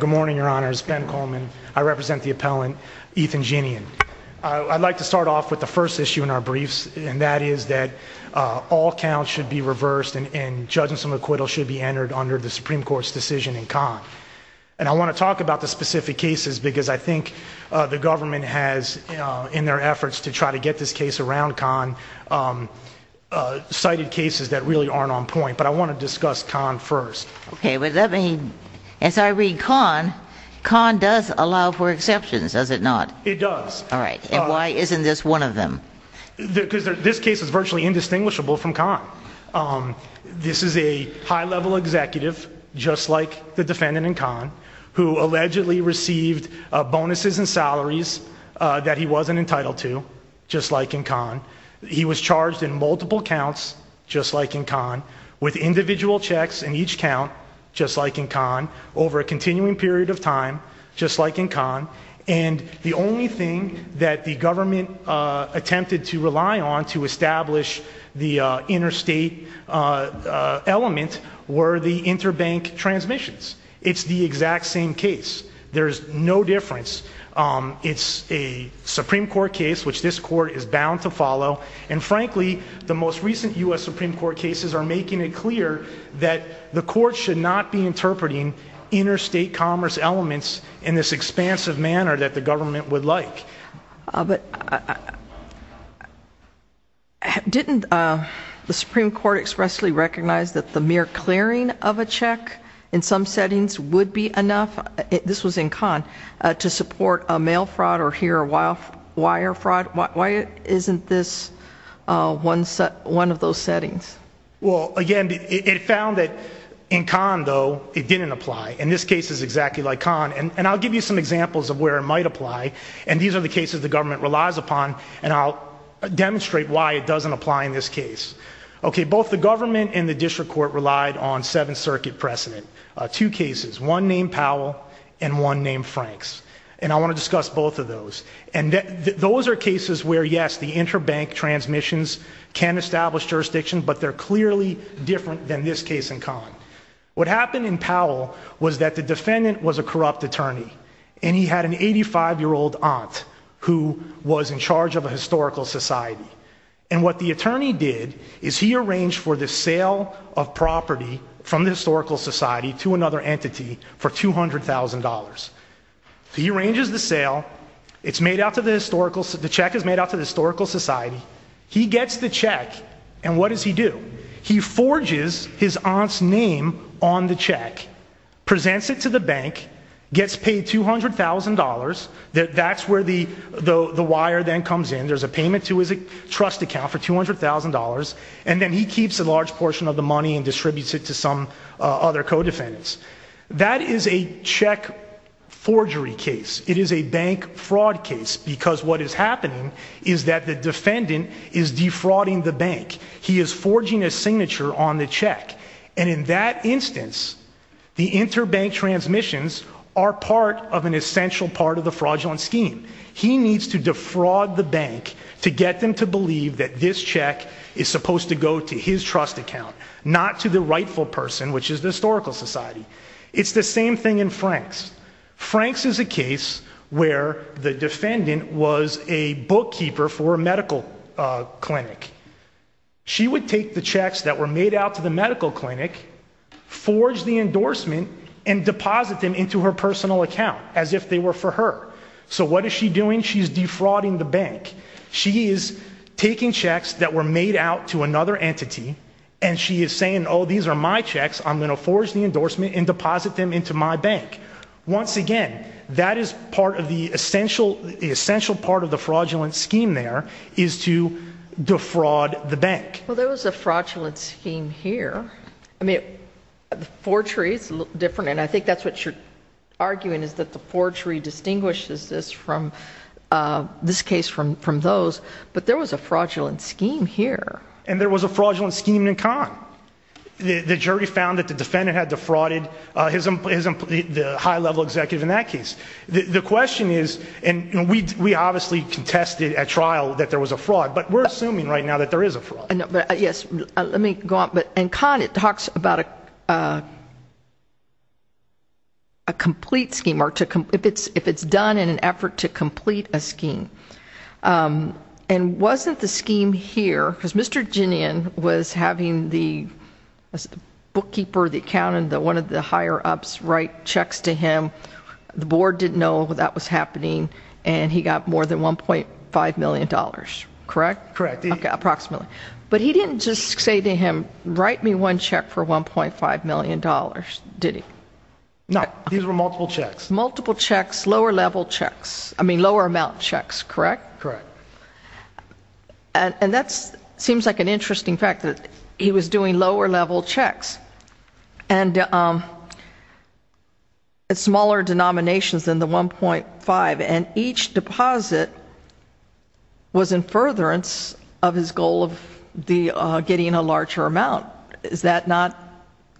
Good morning, your honors. Ben Coleman. I represent the appellant Ethan Jinian. I'd like to start off with the first issue in our briefs, and that is that all counts should be reversed and judgements and acquittals should be entered under the Supreme Court's decision in Conn. And I want to talk about the specific cases because I think the government has, in their efforts to try to get this case around Conn, cited cases that really aren't on point. But I want to Conn does allow for exceptions, does it not? It does. All right, and why isn't this one of them? Because this case is virtually indistinguishable from Conn. This is a high-level executive, just like the defendant in Conn, who allegedly received bonuses and salaries that he wasn't entitled to, just like in Conn. He was charged in multiple counts, just like in Conn, with of time, just like in Conn. And the only thing that the government attempted to rely on to establish the interstate element were the interbank transmissions. It's the exact same case. There's no difference. It's a Supreme Court case, which this court is bound to follow. And frankly, the most recent U.S. Supreme Court cases are making it clear that the court should not be interpreting interstate commerce elements in this expansive manner that the government would like. But didn't the Supreme Court expressly recognize that the mere clearing of a check in some settings would be enough, this was in Conn, to support a mail fraud or here a wire fraud? Why isn't this one of those settings? Well, again, it found that in Conn, though, it didn't apply. And this case is exactly like Conn. And I'll give you some examples of where it might apply. And these are the cases the government relies upon. And I'll demonstrate why it doesn't apply in this case. Okay, both the government and the district court relied on Seventh Circuit precedent. Two cases, one named Powell and one named Franks. And I want to discuss both of those. And those are cases where, yes, the interbank transmissions can establish jurisdiction, but they're clearly different than this case in Conn. What happened in Powell was that the defendant was a corrupt attorney, and he had an 85-year-old aunt who was in charge of a historical society. And what the attorney did is he arranged for the $200,000. He arranges the sale. It's made out to the historical, the check is made out to the historical society. He gets the check. And what does he do? He forges his aunt's name on the check, presents it to the bank, gets paid $200,000. That's where the wire then comes in. There's a payment to his trust account for $200,000. And then he keeps a large portion of the money and That is a check forgery case. It is a bank fraud case because what is happening is that the defendant is defrauding the bank. He is forging a signature on the check. And in that instance, the interbank transmissions are part of an essential part of the fraudulent scheme. He needs to defraud the bank to get them to believe that this check is supposed to go to his trust account, not to the rightful person, which is the historical society. It's the same thing in Franks. Franks is a case where the defendant was a bookkeeper for a medical clinic. She would take the checks that were made out to the medical clinic, forge the endorsement, and deposit them into her personal account as if they were for her. So what is she doing? She's defrauding the bank. She is taking checks that were made out to another entity, and she is saying, oh, these are my checks. I'm going to forge the endorsement and deposit them into my bank. Once again, that is part of the essential part of the fraudulent scheme there is to defraud the bank. Well, there was a fraudulent scheme here. I mean, the forgery is a little different, and I think that's what you're arguing is that the forgery distinguishes this case from those. But there was a fraudulent scheme here. And there was a fraudulent scheme in Kahn. The jury found that the defendant had defrauded the high-level executive in that case. The question is, and we obviously contested at trial that there was a fraud, but we're assuming right now that there is a fraud. Yes. Let me go on. In Kahn, it talks about a complete scheme, or if it's done in an effort to complete a scheme. And wasn't the scheme here, because Mr. Ginian was having the bookkeeper, the accountant, one of the higher-ups write checks to him. The board didn't know that was happening, and he got more than $1.5 million, correct? Correct. Approximately. But he didn't just say to him, write me one check for $1.5 million, did he? No. These were multiple checks. Multiple checks, lower-level checks. I mean, lower-amount checks, correct? Correct. And that seems like an interesting fact, that he was doing lower-level checks. And it's smaller denominations than the $1.5, and each deposit was in furtherance of his goal of getting a larger amount. Is that not?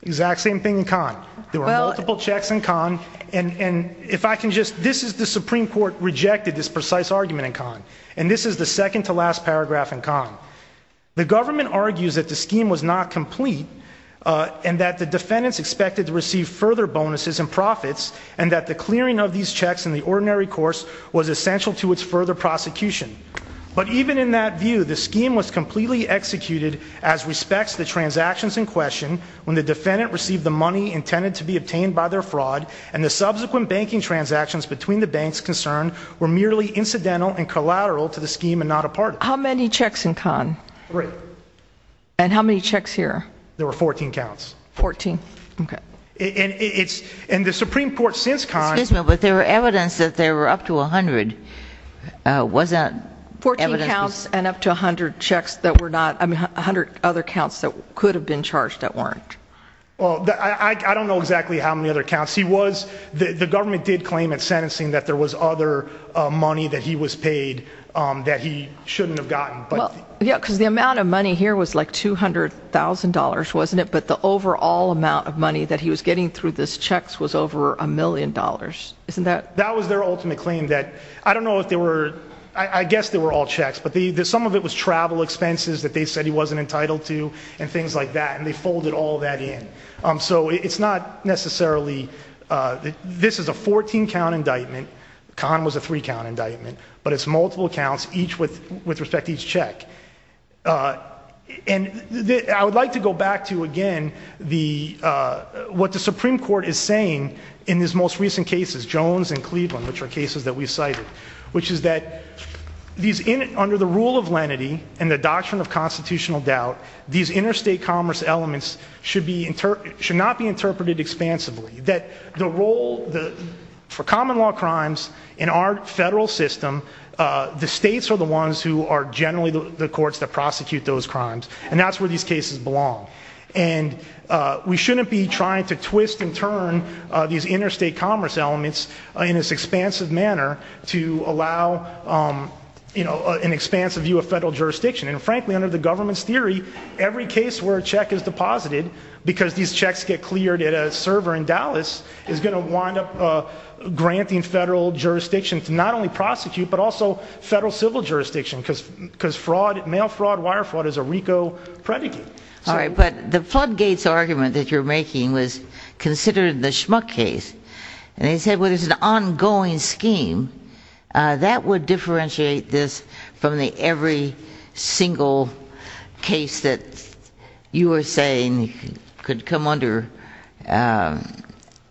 Exact same thing in Kahn. There were multiple checks in Kahn. And if I can just, this is the Supreme Court rejected this precise argument in Kahn. And this is the second to last paragraph in Kahn. The government argues that the scheme was not complete, and that the defendants expected to receive further bonuses and profits, and that the clearing of these checks in the ordinary course was essential to its further prosecution. But even in that view, the scheme was completely executed as respects the transactions in question, when the defendant received the money intended to be obtained by their fraud, and the subsequent banking transactions between the banks concerned were merely incidental and collateral to the scheme and not a part of it. How many checks in Kahn? Three. And how many checks here? There were 14 counts. 14. Okay. And the Supreme Court, since Kahn... Excuse me, but there were evidence that there were up to 100. Was that evidence? 14 counts and up to 100 checks that were not, 100 other counts that could have been charged that weren't. Well, I don't know exactly how many other counts. He was, the government did claim at sentencing that there was other money that he was paid that he shouldn't have gotten. Well, yeah, because the amount of money here was like $200,000, wasn't it? But the overall amount of money that he was getting through this checks was over a million dollars, isn't that? That was their ultimate claim that, I don't know if they were, I guess they were all checks, but some of it was travel expenses that they said he wasn't entitled to and things like that. And they folded all that in. So it's not necessarily, this is a 14 count indictment. Kahn was a three count indictment, but it's multiple counts, each with respect to each check. And I would like to go back to, again, what the Supreme Court is saying in his most recent cases, Jones and Cleveland, which are cases that we cited, which is that these, under the rule of lenity and the doctrine of constitutional doubt, these interstate commerce elements should be, should not be interpreted expansively. That the role for common law crimes in our federal system, the states are the ones who are generally the courts that prosecute those crimes. And that's where these cases belong. And we shouldn't be trying to twist and turn these interstate commerce elements in this expansive manner to allow an expansive view of federal jurisdiction. And frankly, under the government's theory, every case where a check is deposited, because these checks get cleared at a server in Dallas, is going to wind up granting federal jurisdiction to not only prosecute, but also federal civil jurisdiction, because fraud, mail fraud, wire fraud is a RICO predicate. All right, but the floodgates argument that you're making was considered the Schmuck case. And they said, well, there's an ongoing scheme that would differentiate this from the every single case that you were saying could come under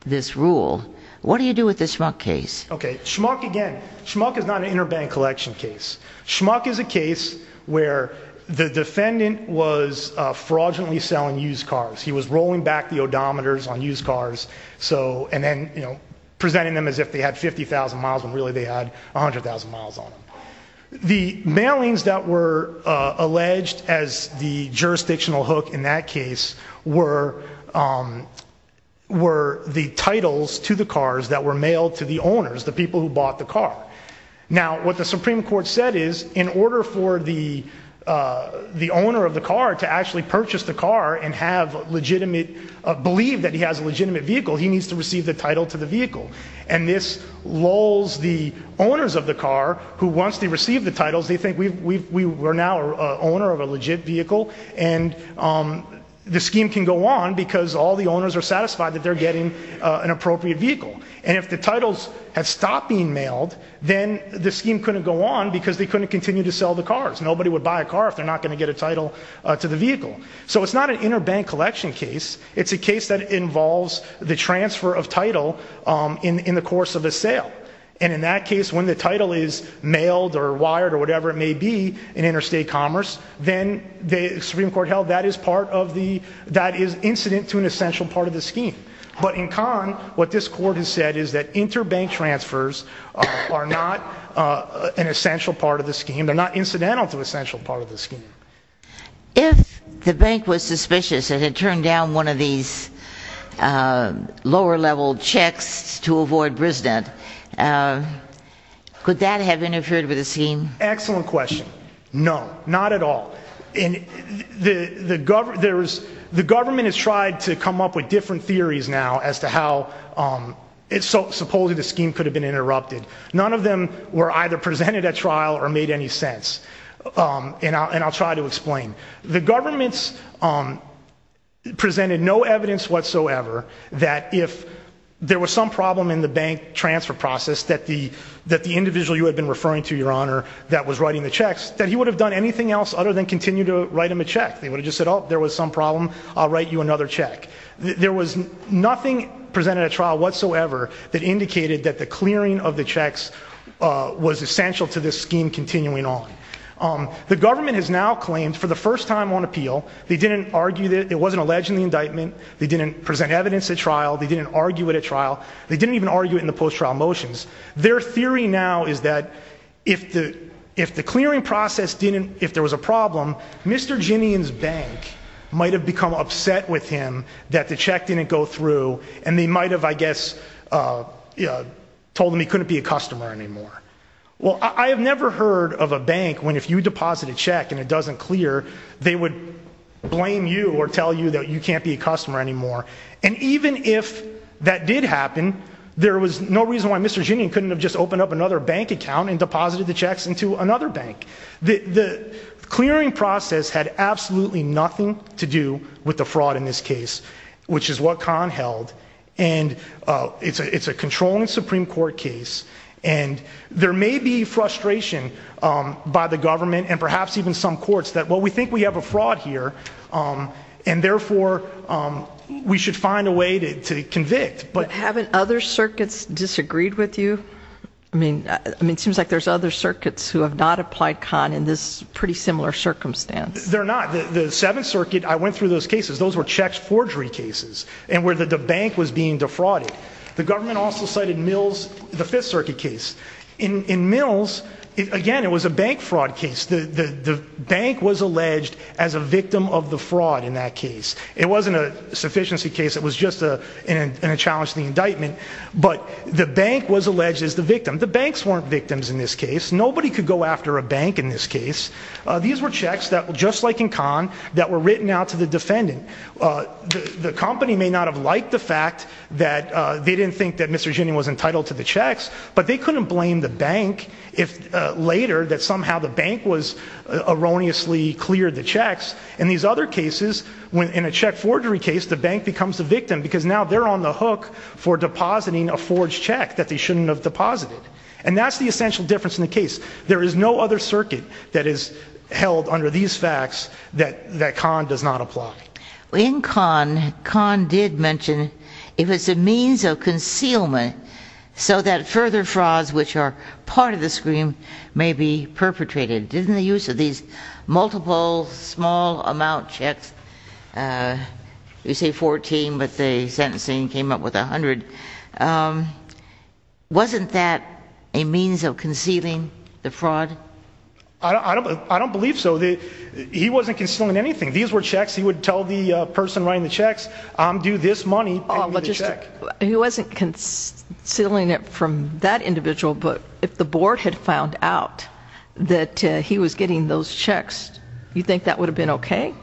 this rule. What do you do with the Schmuck case? Okay. Schmuck, again, Schmuck is not an interbank collection case. Schmuck is a case where the defendant was fraudulently selling used cars. He was rolling back the odometers on used cars, and then presenting them as if they had 50,000 miles when really they had 100,000 miles on them. The mailings that were alleged as the jurisdictional hook in that case were the titles to the cars that were mailed to the owners, the people who bought the car. Now, what the Supreme Court said is, in order for the owner of the car to actually purchase the car and have legitimate, believe that he has a legitimate vehicle, he needs to receive the title to the vehicle. And this lulls the owners of the car, who once they receive the titles, they think we're now an owner of a legit vehicle, and the scheme can go on because all the owners are satisfied that they're getting an appropriate vehicle. And if the titles have stopped being mailed, then the scheme couldn't go on because they couldn't continue to sell the cars. Nobody would buy a car if they're not going to get a title to the vehicle. So it's not an interbank collection case. It's a case that involves the transfer of title in the course of a sale. And in that case, when the title is mailed or wired or whatever it may be in interstate commerce, then the Supreme Court held that is incident to an essential part of the scheme. But in Kahn, what this court has said is that interbank transfers are not an essential part of the scheme. They're not incidental to an essential part of the scheme. If the bank was suspicious and had turned down one of these lower-level checks to avoid brisbane, could that have interfered with the scheme? Excellent question. No, not at all. The government has tried to come up with different theories now as to how supposedly the scheme could have been interrupted. None of them were either and I'll try to explain. The government presented no evidence whatsoever that if there was some problem in the bank transfer process that the individual you had been referring to, your honor, that was writing the checks, that he would have done anything else other than continue to write him a check. They would have just said, oh, there was some problem. I'll write you another check. There was nothing presented at trial whatsoever that indicated that the clearing of the checks was essential to this scheme continuing on. The government has now claimed for the first time on appeal, they didn't argue that it wasn't alleged in the indictment. They didn't present evidence at trial. They didn't argue it at trial. They didn't even argue it in the post-trial motions. Their theory now is that if the clearing process didn't, if there was a problem, Mr. Ginian's bank might have become upset with him that the check didn't go through and they might have, I guess, you know, told him he couldn't be a customer anymore. Well, I have never heard of a bank when if you deposit a check and it doesn't clear, they would blame you or tell you that you can't be a customer anymore. And even if that did happen, there was no reason why Mr. Ginian couldn't have just opened up another bank account and deposited the checks into another bank. The clearing process had absolutely nothing to do with the fraud in this case, which is what Kahn held. And it's a controlling Supreme Court case. And there may be frustration by the government and perhaps even some courts that, well, we think we have a fraud here. And therefore, we should find a way to convict. But haven't other circuits disagreed with you? I mean, it seems like there's other circuits who have not applied Kahn in this pretty similar circumstance. They're not. The Seventh Circuit, I went through those cases. Those were checks forgery cases and where the bank was being defrauded. The government also cited Mills, the Fifth Circuit case. In Mills, again, it was a bank fraud case. The bank was alleged as a victim of the fraud in that case. It wasn't a sufficiency case. It was just a challenge to the indictment. But the bank was alleged as the victim. The banks weren't victims in this case. Nobody could go after a bank in this case. These were checks that, just like in Kahn, that were written out to the defendant. The company may not have liked the fact that they didn't think that Mr. Ginni was entitled to the checks, but they couldn't blame the bank if later that somehow the bank was erroneously cleared the checks. In these other cases, when in a check forgery case, the bank becomes the victim because now they're on the hook for depositing a deposit. And that's the essential difference in the case. There is no other circuit that is held under these facts that Kahn does not apply. In Kahn, Kahn did mention it was a means of concealment so that further frauds, which are part of the scheme, may be perpetrated. Didn't the use of these multiple small amount checks, you say 14, but the sentencing came up with 100, um, wasn't that a means of concealing the fraud? I don't, I don't believe so. He wasn't concealing anything. These were checks. He would tell the person writing the checks, I'm due this money. He wasn't concealing it from that individual, but if the board had found out that he was getting those checks, you think that would have been okay?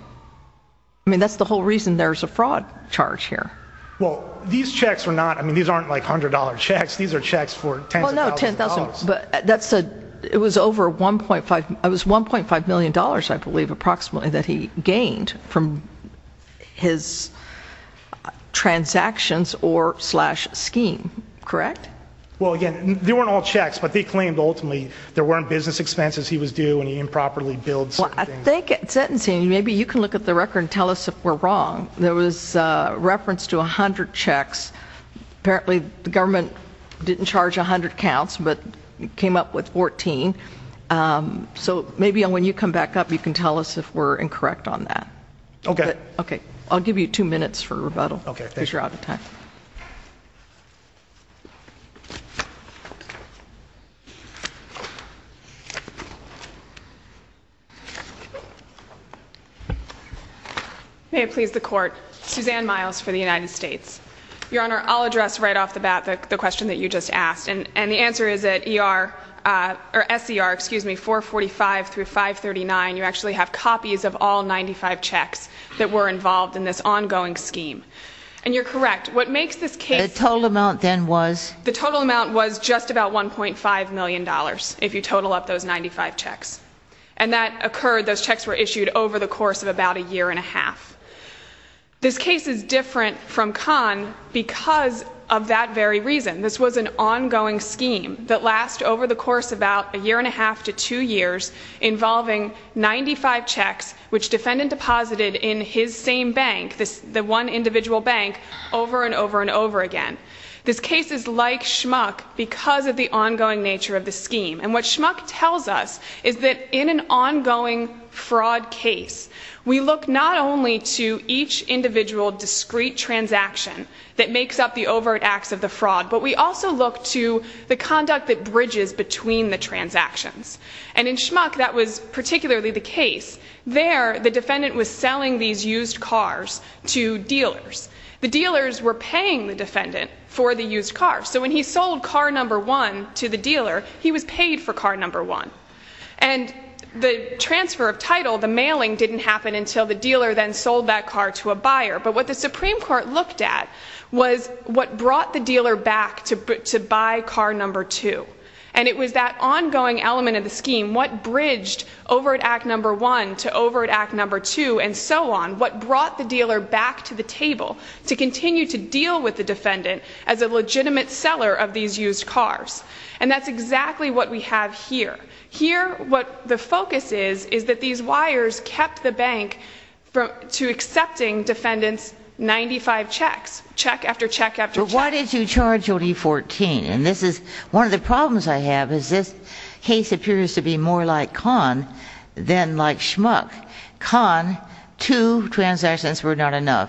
I mean, that's the whole reason there's a fraud charge here. Well, these checks were not, I mean, these aren't like $100 checks. These are checks for $10,000. But that's a, it was over 1.5, it was $1.5 million, I believe, approximately that he gained from his transactions or slash scheme. Correct? Well, again, they weren't all checks, but they claimed ultimately there weren't business expenses. He was due and he improperly billed certain things. Well, I think at sentencing, maybe you can look at the record and tell us if we're wrong. There was a reference to a hundred checks. Apparently the government didn't charge a hundred counts, but came up with 14. Um, so maybe when you come back up, you can tell us if we're incorrect on that. Okay. Okay. I'll give you two minutes for rebuttal. Okay. May it please the court. Suzanne Miles for the United States. Your Honor, I'll address right off the bat the question that you just asked. And the answer is that ER, uh, or SCR, excuse me, 445 through 539, you actually have copies of all 95 checks that were involved in this ongoing scheme. And you're correct. What makes this case, the total amount then was the total amount was just about $1.5 million. If you total up those 95 checks and that occurred, those checks were issued over the course of about a year and a half. This case is different from con because of that very reason. This was an ongoing scheme that lasts over the course, about a year and a half to two years involving 95 checks, which defendant deposited in his same bank, this, the one individual bank over and over and over again. This case is like schmuck because of the ongoing nature of the scheme. And what schmuck tells us is that in an ongoing fraud case, we look not only to each individual discrete transaction that makes up the overt acts of the fraud, but we also look to the conduct that bridges between the transactions. And in schmuck, that was particularly the case. There, the defendant was selling these used cars to dealers. The dealers were paying the defendant for the used car. So when he sold car number one to the dealer, he was paid for car number one. And the transfer of title, the mailing didn't happen until the dealer then sold that car to a buyer. But what the Supreme Court looked at was what brought the dealer back to buy car number two. And it was that ongoing element of the scheme, what bridged over at act number one to over at act number two and so on, what brought the dealer back to the table to continue to deal with the defendant as a legitimate seller of these used cars. And that's exactly what we have here. Here, what the focus is, is that these defendants, 95 checks, check after check after check. But why did you charge only 14? And this is one of the problems I have is this case appears to be more like con than like schmuck. Con, two transactions were not enough.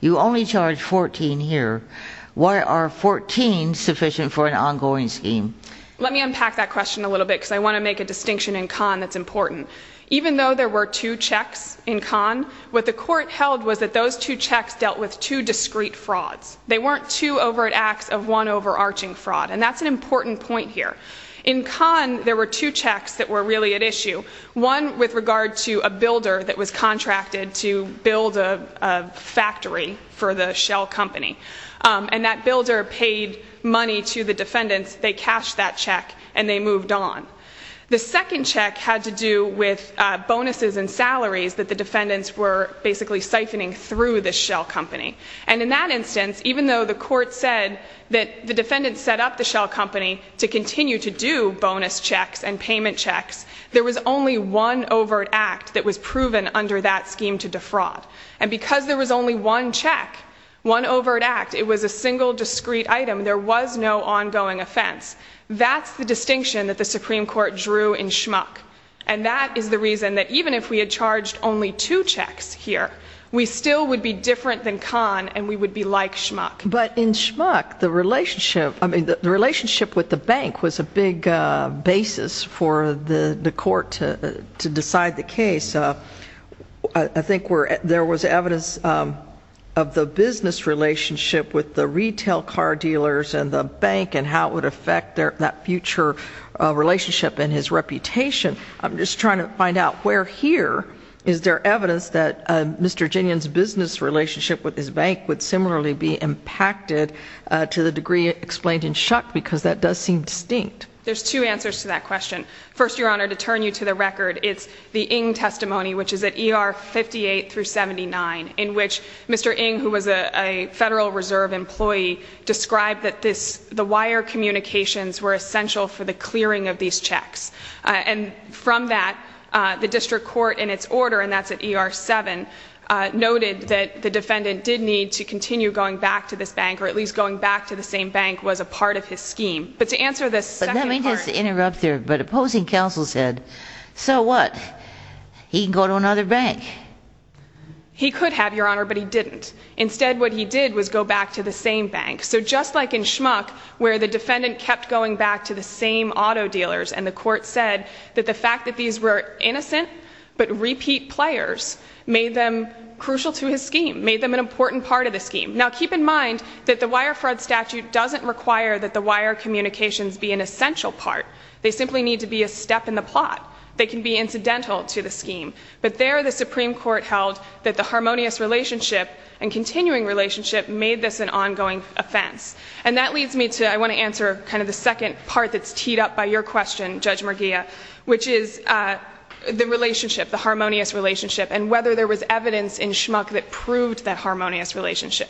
You only charge 14 here. Why are 14 sufficient for an ongoing scheme? Let me unpack that question a little bit because I want to make a distinction in con that's two checks dealt with two discreet frauds. They weren't two over at acts of one overarching fraud. And that's an important point here. In con, there were two checks that were really at issue. One with regard to a builder that was contracted to build a factory for the shell company. And that builder paid money to the defendants. They cashed that check and they moved on. The second check had to do with bonuses and salaries that the defendants were basically siphoning through the shell company. And in that instance, even though the court said that the defendants set up the shell company to continue to do bonus checks and payment checks, there was only one overt act that was proven under that scheme to defraud. And because there was only one check, one overt act, it was a single discreet item. There was no ongoing offense. That's the distinction that the Supreme Court drew in schmuck. And that is the reason that even if we had charged only two checks here, we still would be different than con and we would be like schmuck. But in schmuck, the relationship, I mean, the relationship with the bank was a big basis for the court to decide the case. I think there was evidence of the business relationship with the retail car dealers and the bank and how it would relationship and his reputation. I'm just trying to find out where here is there evidence that Mr. Ginnian's business relationship with his bank would similarly be impacted to the degree explained in schmuck because that does seem distinct. There's two answers to that question. First, Your Honor, to turn you to the record, it's the Ng testimony, which is at ER 58 through 79, in which Mr. Ng, who was a Federal Reserve employee, described that the wire communications were essential for the clearing of these checks. And from that, the district court, in its order, and that's at ER 7, noted that the defendant did need to continue going back to this bank, or at least going back to the same bank was a part of his scheme. But to answer the second part... But let me just interrupt there. But opposing counsel said, so what? He can go to another bank. He could have, Your Honor, but he didn't. Instead, what he did was go back to the same bank. So just like in schmuck, where the defendant kept going back to the same auto dealers, and the court said that the fact that these were innocent, but repeat players, made them crucial to his scheme, made them an important part of the scheme. Now, keep in mind that the wire fraud statute doesn't require that the wire communications be an essential part. They simply need to be a step in the plot. They can be incidental to the scheme. But there, the Supreme Court held that the And that leads me to, I want to answer kind of the second part that's teed up by your question, Judge Merguia, which is the relationship, the harmonious relationship, and whether there was evidence in schmuck that proved that harmonious relationship.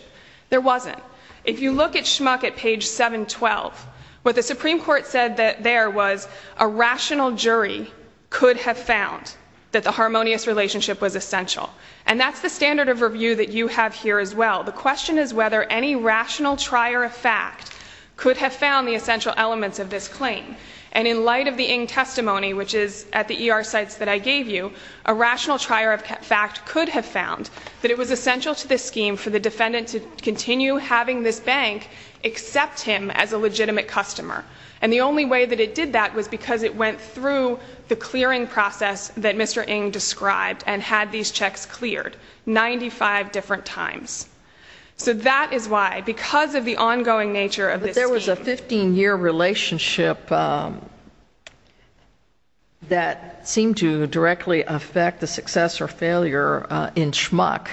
There wasn't. If you look at schmuck at page 712, what the Supreme Court said there was a rational jury could have found that the harmonious relationship was essential. And that's the standard of review that you have here as well. The question is whether any rational trier of fact could have found the essential elements of this claim. And in light of the Ng testimony, which is at the ER sites that I gave you, a rational trier of fact could have found that it was essential to the scheme for the defendant to continue having this bank accept him as a legitimate customer. And the only way that it did that was because it went through the clearing process that Mr. Ng described and had these checks cleared 95 different times. So that is why, because of the ongoing nature of this There was a 15-year relationship that seemed to directly affect the success or failure in schmuck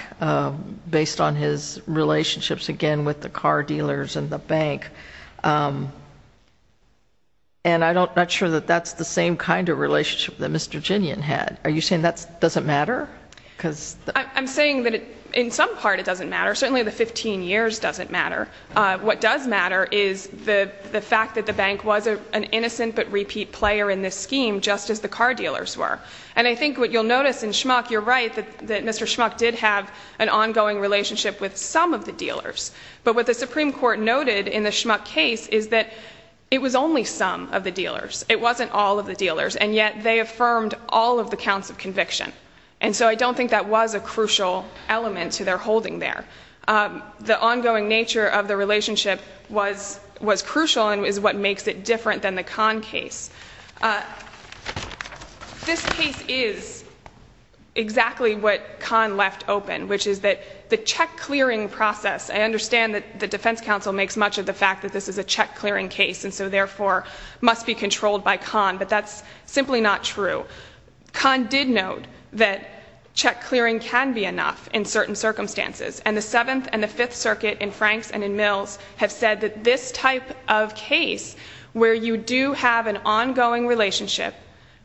based on his relationships, again, with the car dealers and the bank. And I'm not sure that that's the same kind of relationship that Mr. Ginian had. Are you saying does it matter? I'm saying that in some part it doesn't matter. Certainly the 15 years doesn't matter. What does matter is the fact that the bank was an innocent but repeat player in this scheme just as the car dealers were. And I think what you'll notice in schmuck, you're right that Mr. Schmuck did have an ongoing relationship with some of the dealers. But what the Supreme Court noted in the schmuck case is that it was only some of the dealers. It wasn't all of the dealers. And yet they affirmed all of the counts of conviction. And so I don't think that was a crucial element to their holding there. The ongoing nature of the relationship was crucial and is what makes it different than the Kahn case. This case is exactly what Kahn left open, which is that the check clearing process, I understand that the defense counsel makes much of the fact that this is a true. Kahn did note that check clearing can be enough in certain circumstances. And the 7th and the 5th circuit in Franks and in Mills have said that this type of case where you do have an ongoing relationship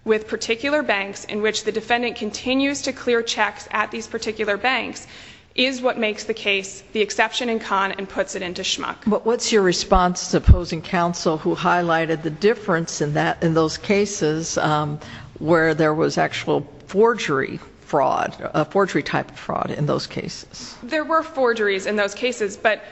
with particular banks in which the defendant continues to clear checks at these particular banks is what makes the case the exception in Kahn and puts it into schmuck. But what's your response to opposing counsel who highlighted the difference in those cases where there was actual forgery fraud, a forgery type of fraud in those cases? There were forgeries in those cases but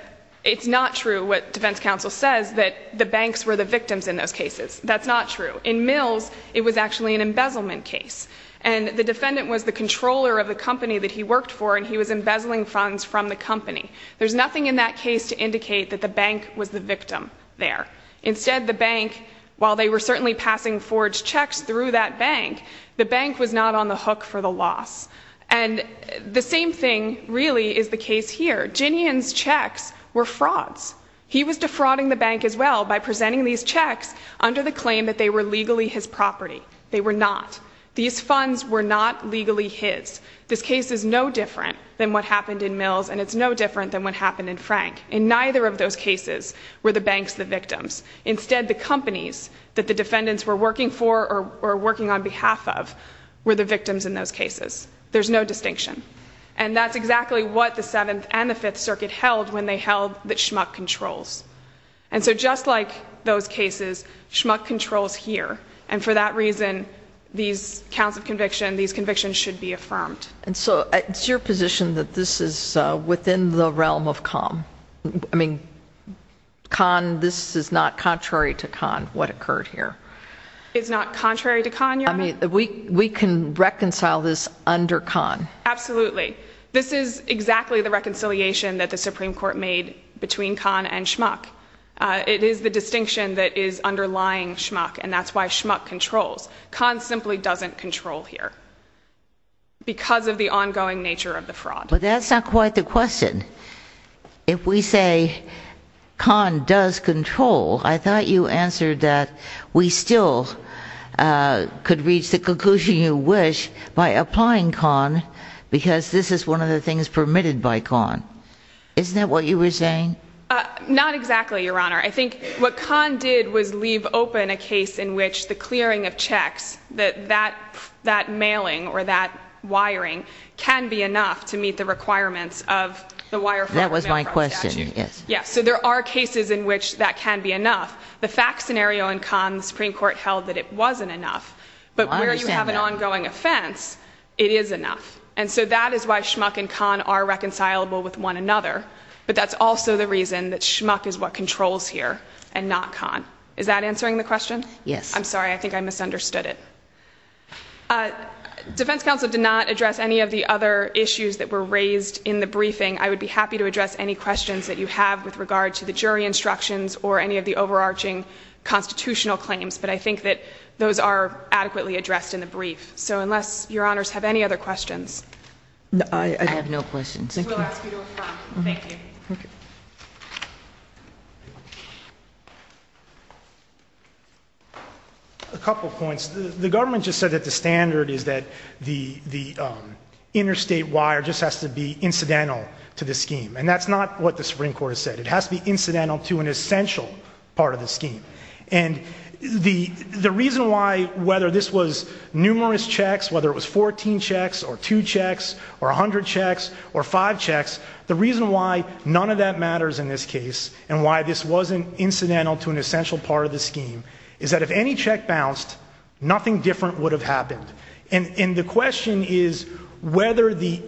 it's not true what defense counsel says that the banks were the victims in those cases. That's not true. In Mills it was actually an embezzlement case. And the defendant was the controller of the company that he worked for and he was embezzling funds from the company. There's nothing in that case to indicate that the bank was the victim there. Instead the bank, while they were certainly passing forged checks through that bank, the bank was not on the hook for the loss. And the same thing really is the case here. Ginian's checks were frauds. He was defrauding the bank as well by presenting these checks under the claim that they were legally his property. They were not. These funds were not legally his. This case is no different than what happened in Mills and it's no different than what happened in Frank. In neither of those cases were banks the victims. Instead the companies that the defendants were working for or working on behalf of were the victims in those cases. There's no distinction. And that's exactly what the 7th and the 5th Circuit held when they held that Schmuck controls. And so just like those cases, Schmuck controls here. And for that reason, these counts of conviction, these convictions should be not contrary to Kahn, what occurred here. It's not contrary to Kahn, Your Honor? We can reconcile this under Kahn. Absolutely. This is exactly the reconciliation that the Supreme Court made between Kahn and Schmuck. It is the distinction that is underlying Schmuck and that's why Schmuck controls. Kahn simply doesn't control here because of the ongoing nature of the fraud. That's not quite the question. If we say Kahn does control, I thought you answered that we still could reach the conclusion you wish by applying Kahn because this is one of the things permitted by Kahn. Isn't that what you were saying? Not exactly, Your Honor. I think what Kahn did was leave open a case in which the clearing of checks, that mailing or that wiring can be enough to meet the requirements of the wire fraud statute. That was my question, yes. So there are cases in which that can be enough. The fact scenario in Kahn, the Supreme Court held that it wasn't enough. But where you have an ongoing offense, it is enough. And so that is why Schmuck and Kahn are reconcilable with one another. But that's also the reason that Schmuck is what controls here and not Kahn. Is that answering the question? Yes. I'm sorry, I think I misunderstood it. Defense counsel did not address any of the other issues that were raised in the briefing. I would be happy to address any questions that you have with regard to the jury instructions or any of the overarching constitutional claims. But I think that those are adequately addressed in the brief. So unless Your Honors have any other questions. I have no questions. Thank you. Thank you. A couple of points. The government just said that the standard is that the interstate wire just has to be incidental to the scheme. And that's not what the Supreme Court has said. It has to be incidental to an essential part of the scheme. And the reason why, whether this was numerous checks, whether it was 14 checks or two checks or 100 checks or five checks, the reason why none of that matters in this case and why this wasn't incidental to an essential part of the scheme is that if any check bounced, nothing different would have happened. And the question is whether the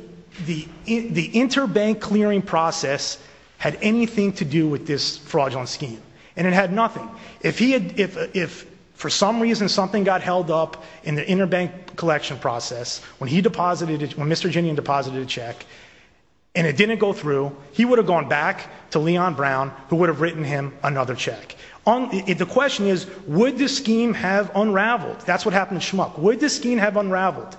interbank clearing process had anything to do with this fraudulent scheme. And it had nothing. If for some reason something got held up in the interbank collection process when he deposited, when Mr. Ginian deposited a check and it didn't go through, he would have gone back to Leon Brown who would have written him another check. The question is would this scheme have unraveled? That's what happened in Schmuck. Would this scheme have unraveled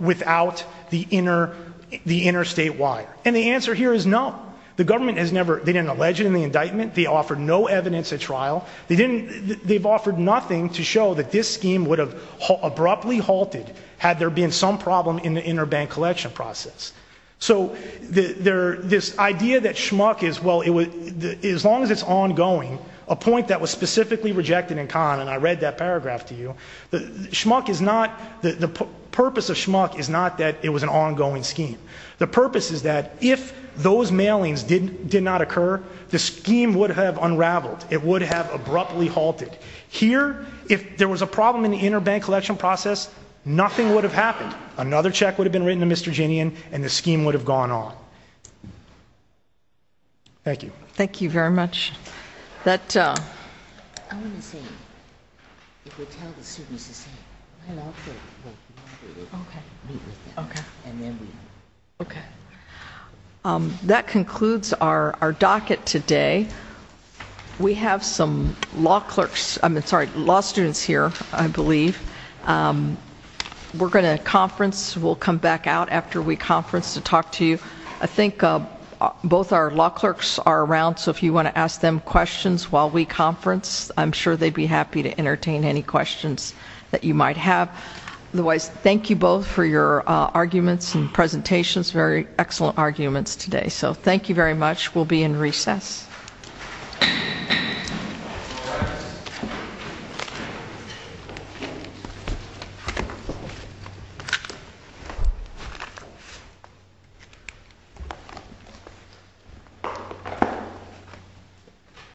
without the interstate wire? And the answer here is no. The government has never, they didn't allege it in the indictment. They offered no evidence at trial. They didn't, they've offered nothing to show that this scheme would have abruptly halted had there been some problem in the interbank collection process. So this idea that Schmuck is, well, as long as it's ongoing, a point that was specifically rejected in Kahn, and I read that paragraph to you, Schmuck is not, the purpose of Schmuck is not that it was an ongoing scheme. The purpose is that if those mailings did not occur, the scheme would have unraveled. It would have abruptly halted. Here, if there was a problem in the interbank collection process, nothing would have happened. Another check would have been written to Mr. Ginian and the scheme would have gone on. Thank you. Thank you very much. I want to say, if we tell the students to say hello, we'll meet with them. Okay. And then we'll. Okay. That concludes our docket today. We have some law clerks, I mean, sorry, law students here, I believe. We're going to conference, we'll come back out after we conference to talk to you. I think both our law clerks are around, so if you want to ask them questions while we conference, I'm sure they'd be happy to entertain any questions that you might have. Otherwise, thank you both for your arguments and presentations, very excellent arguments today. Thank you very much. We'll be in recess.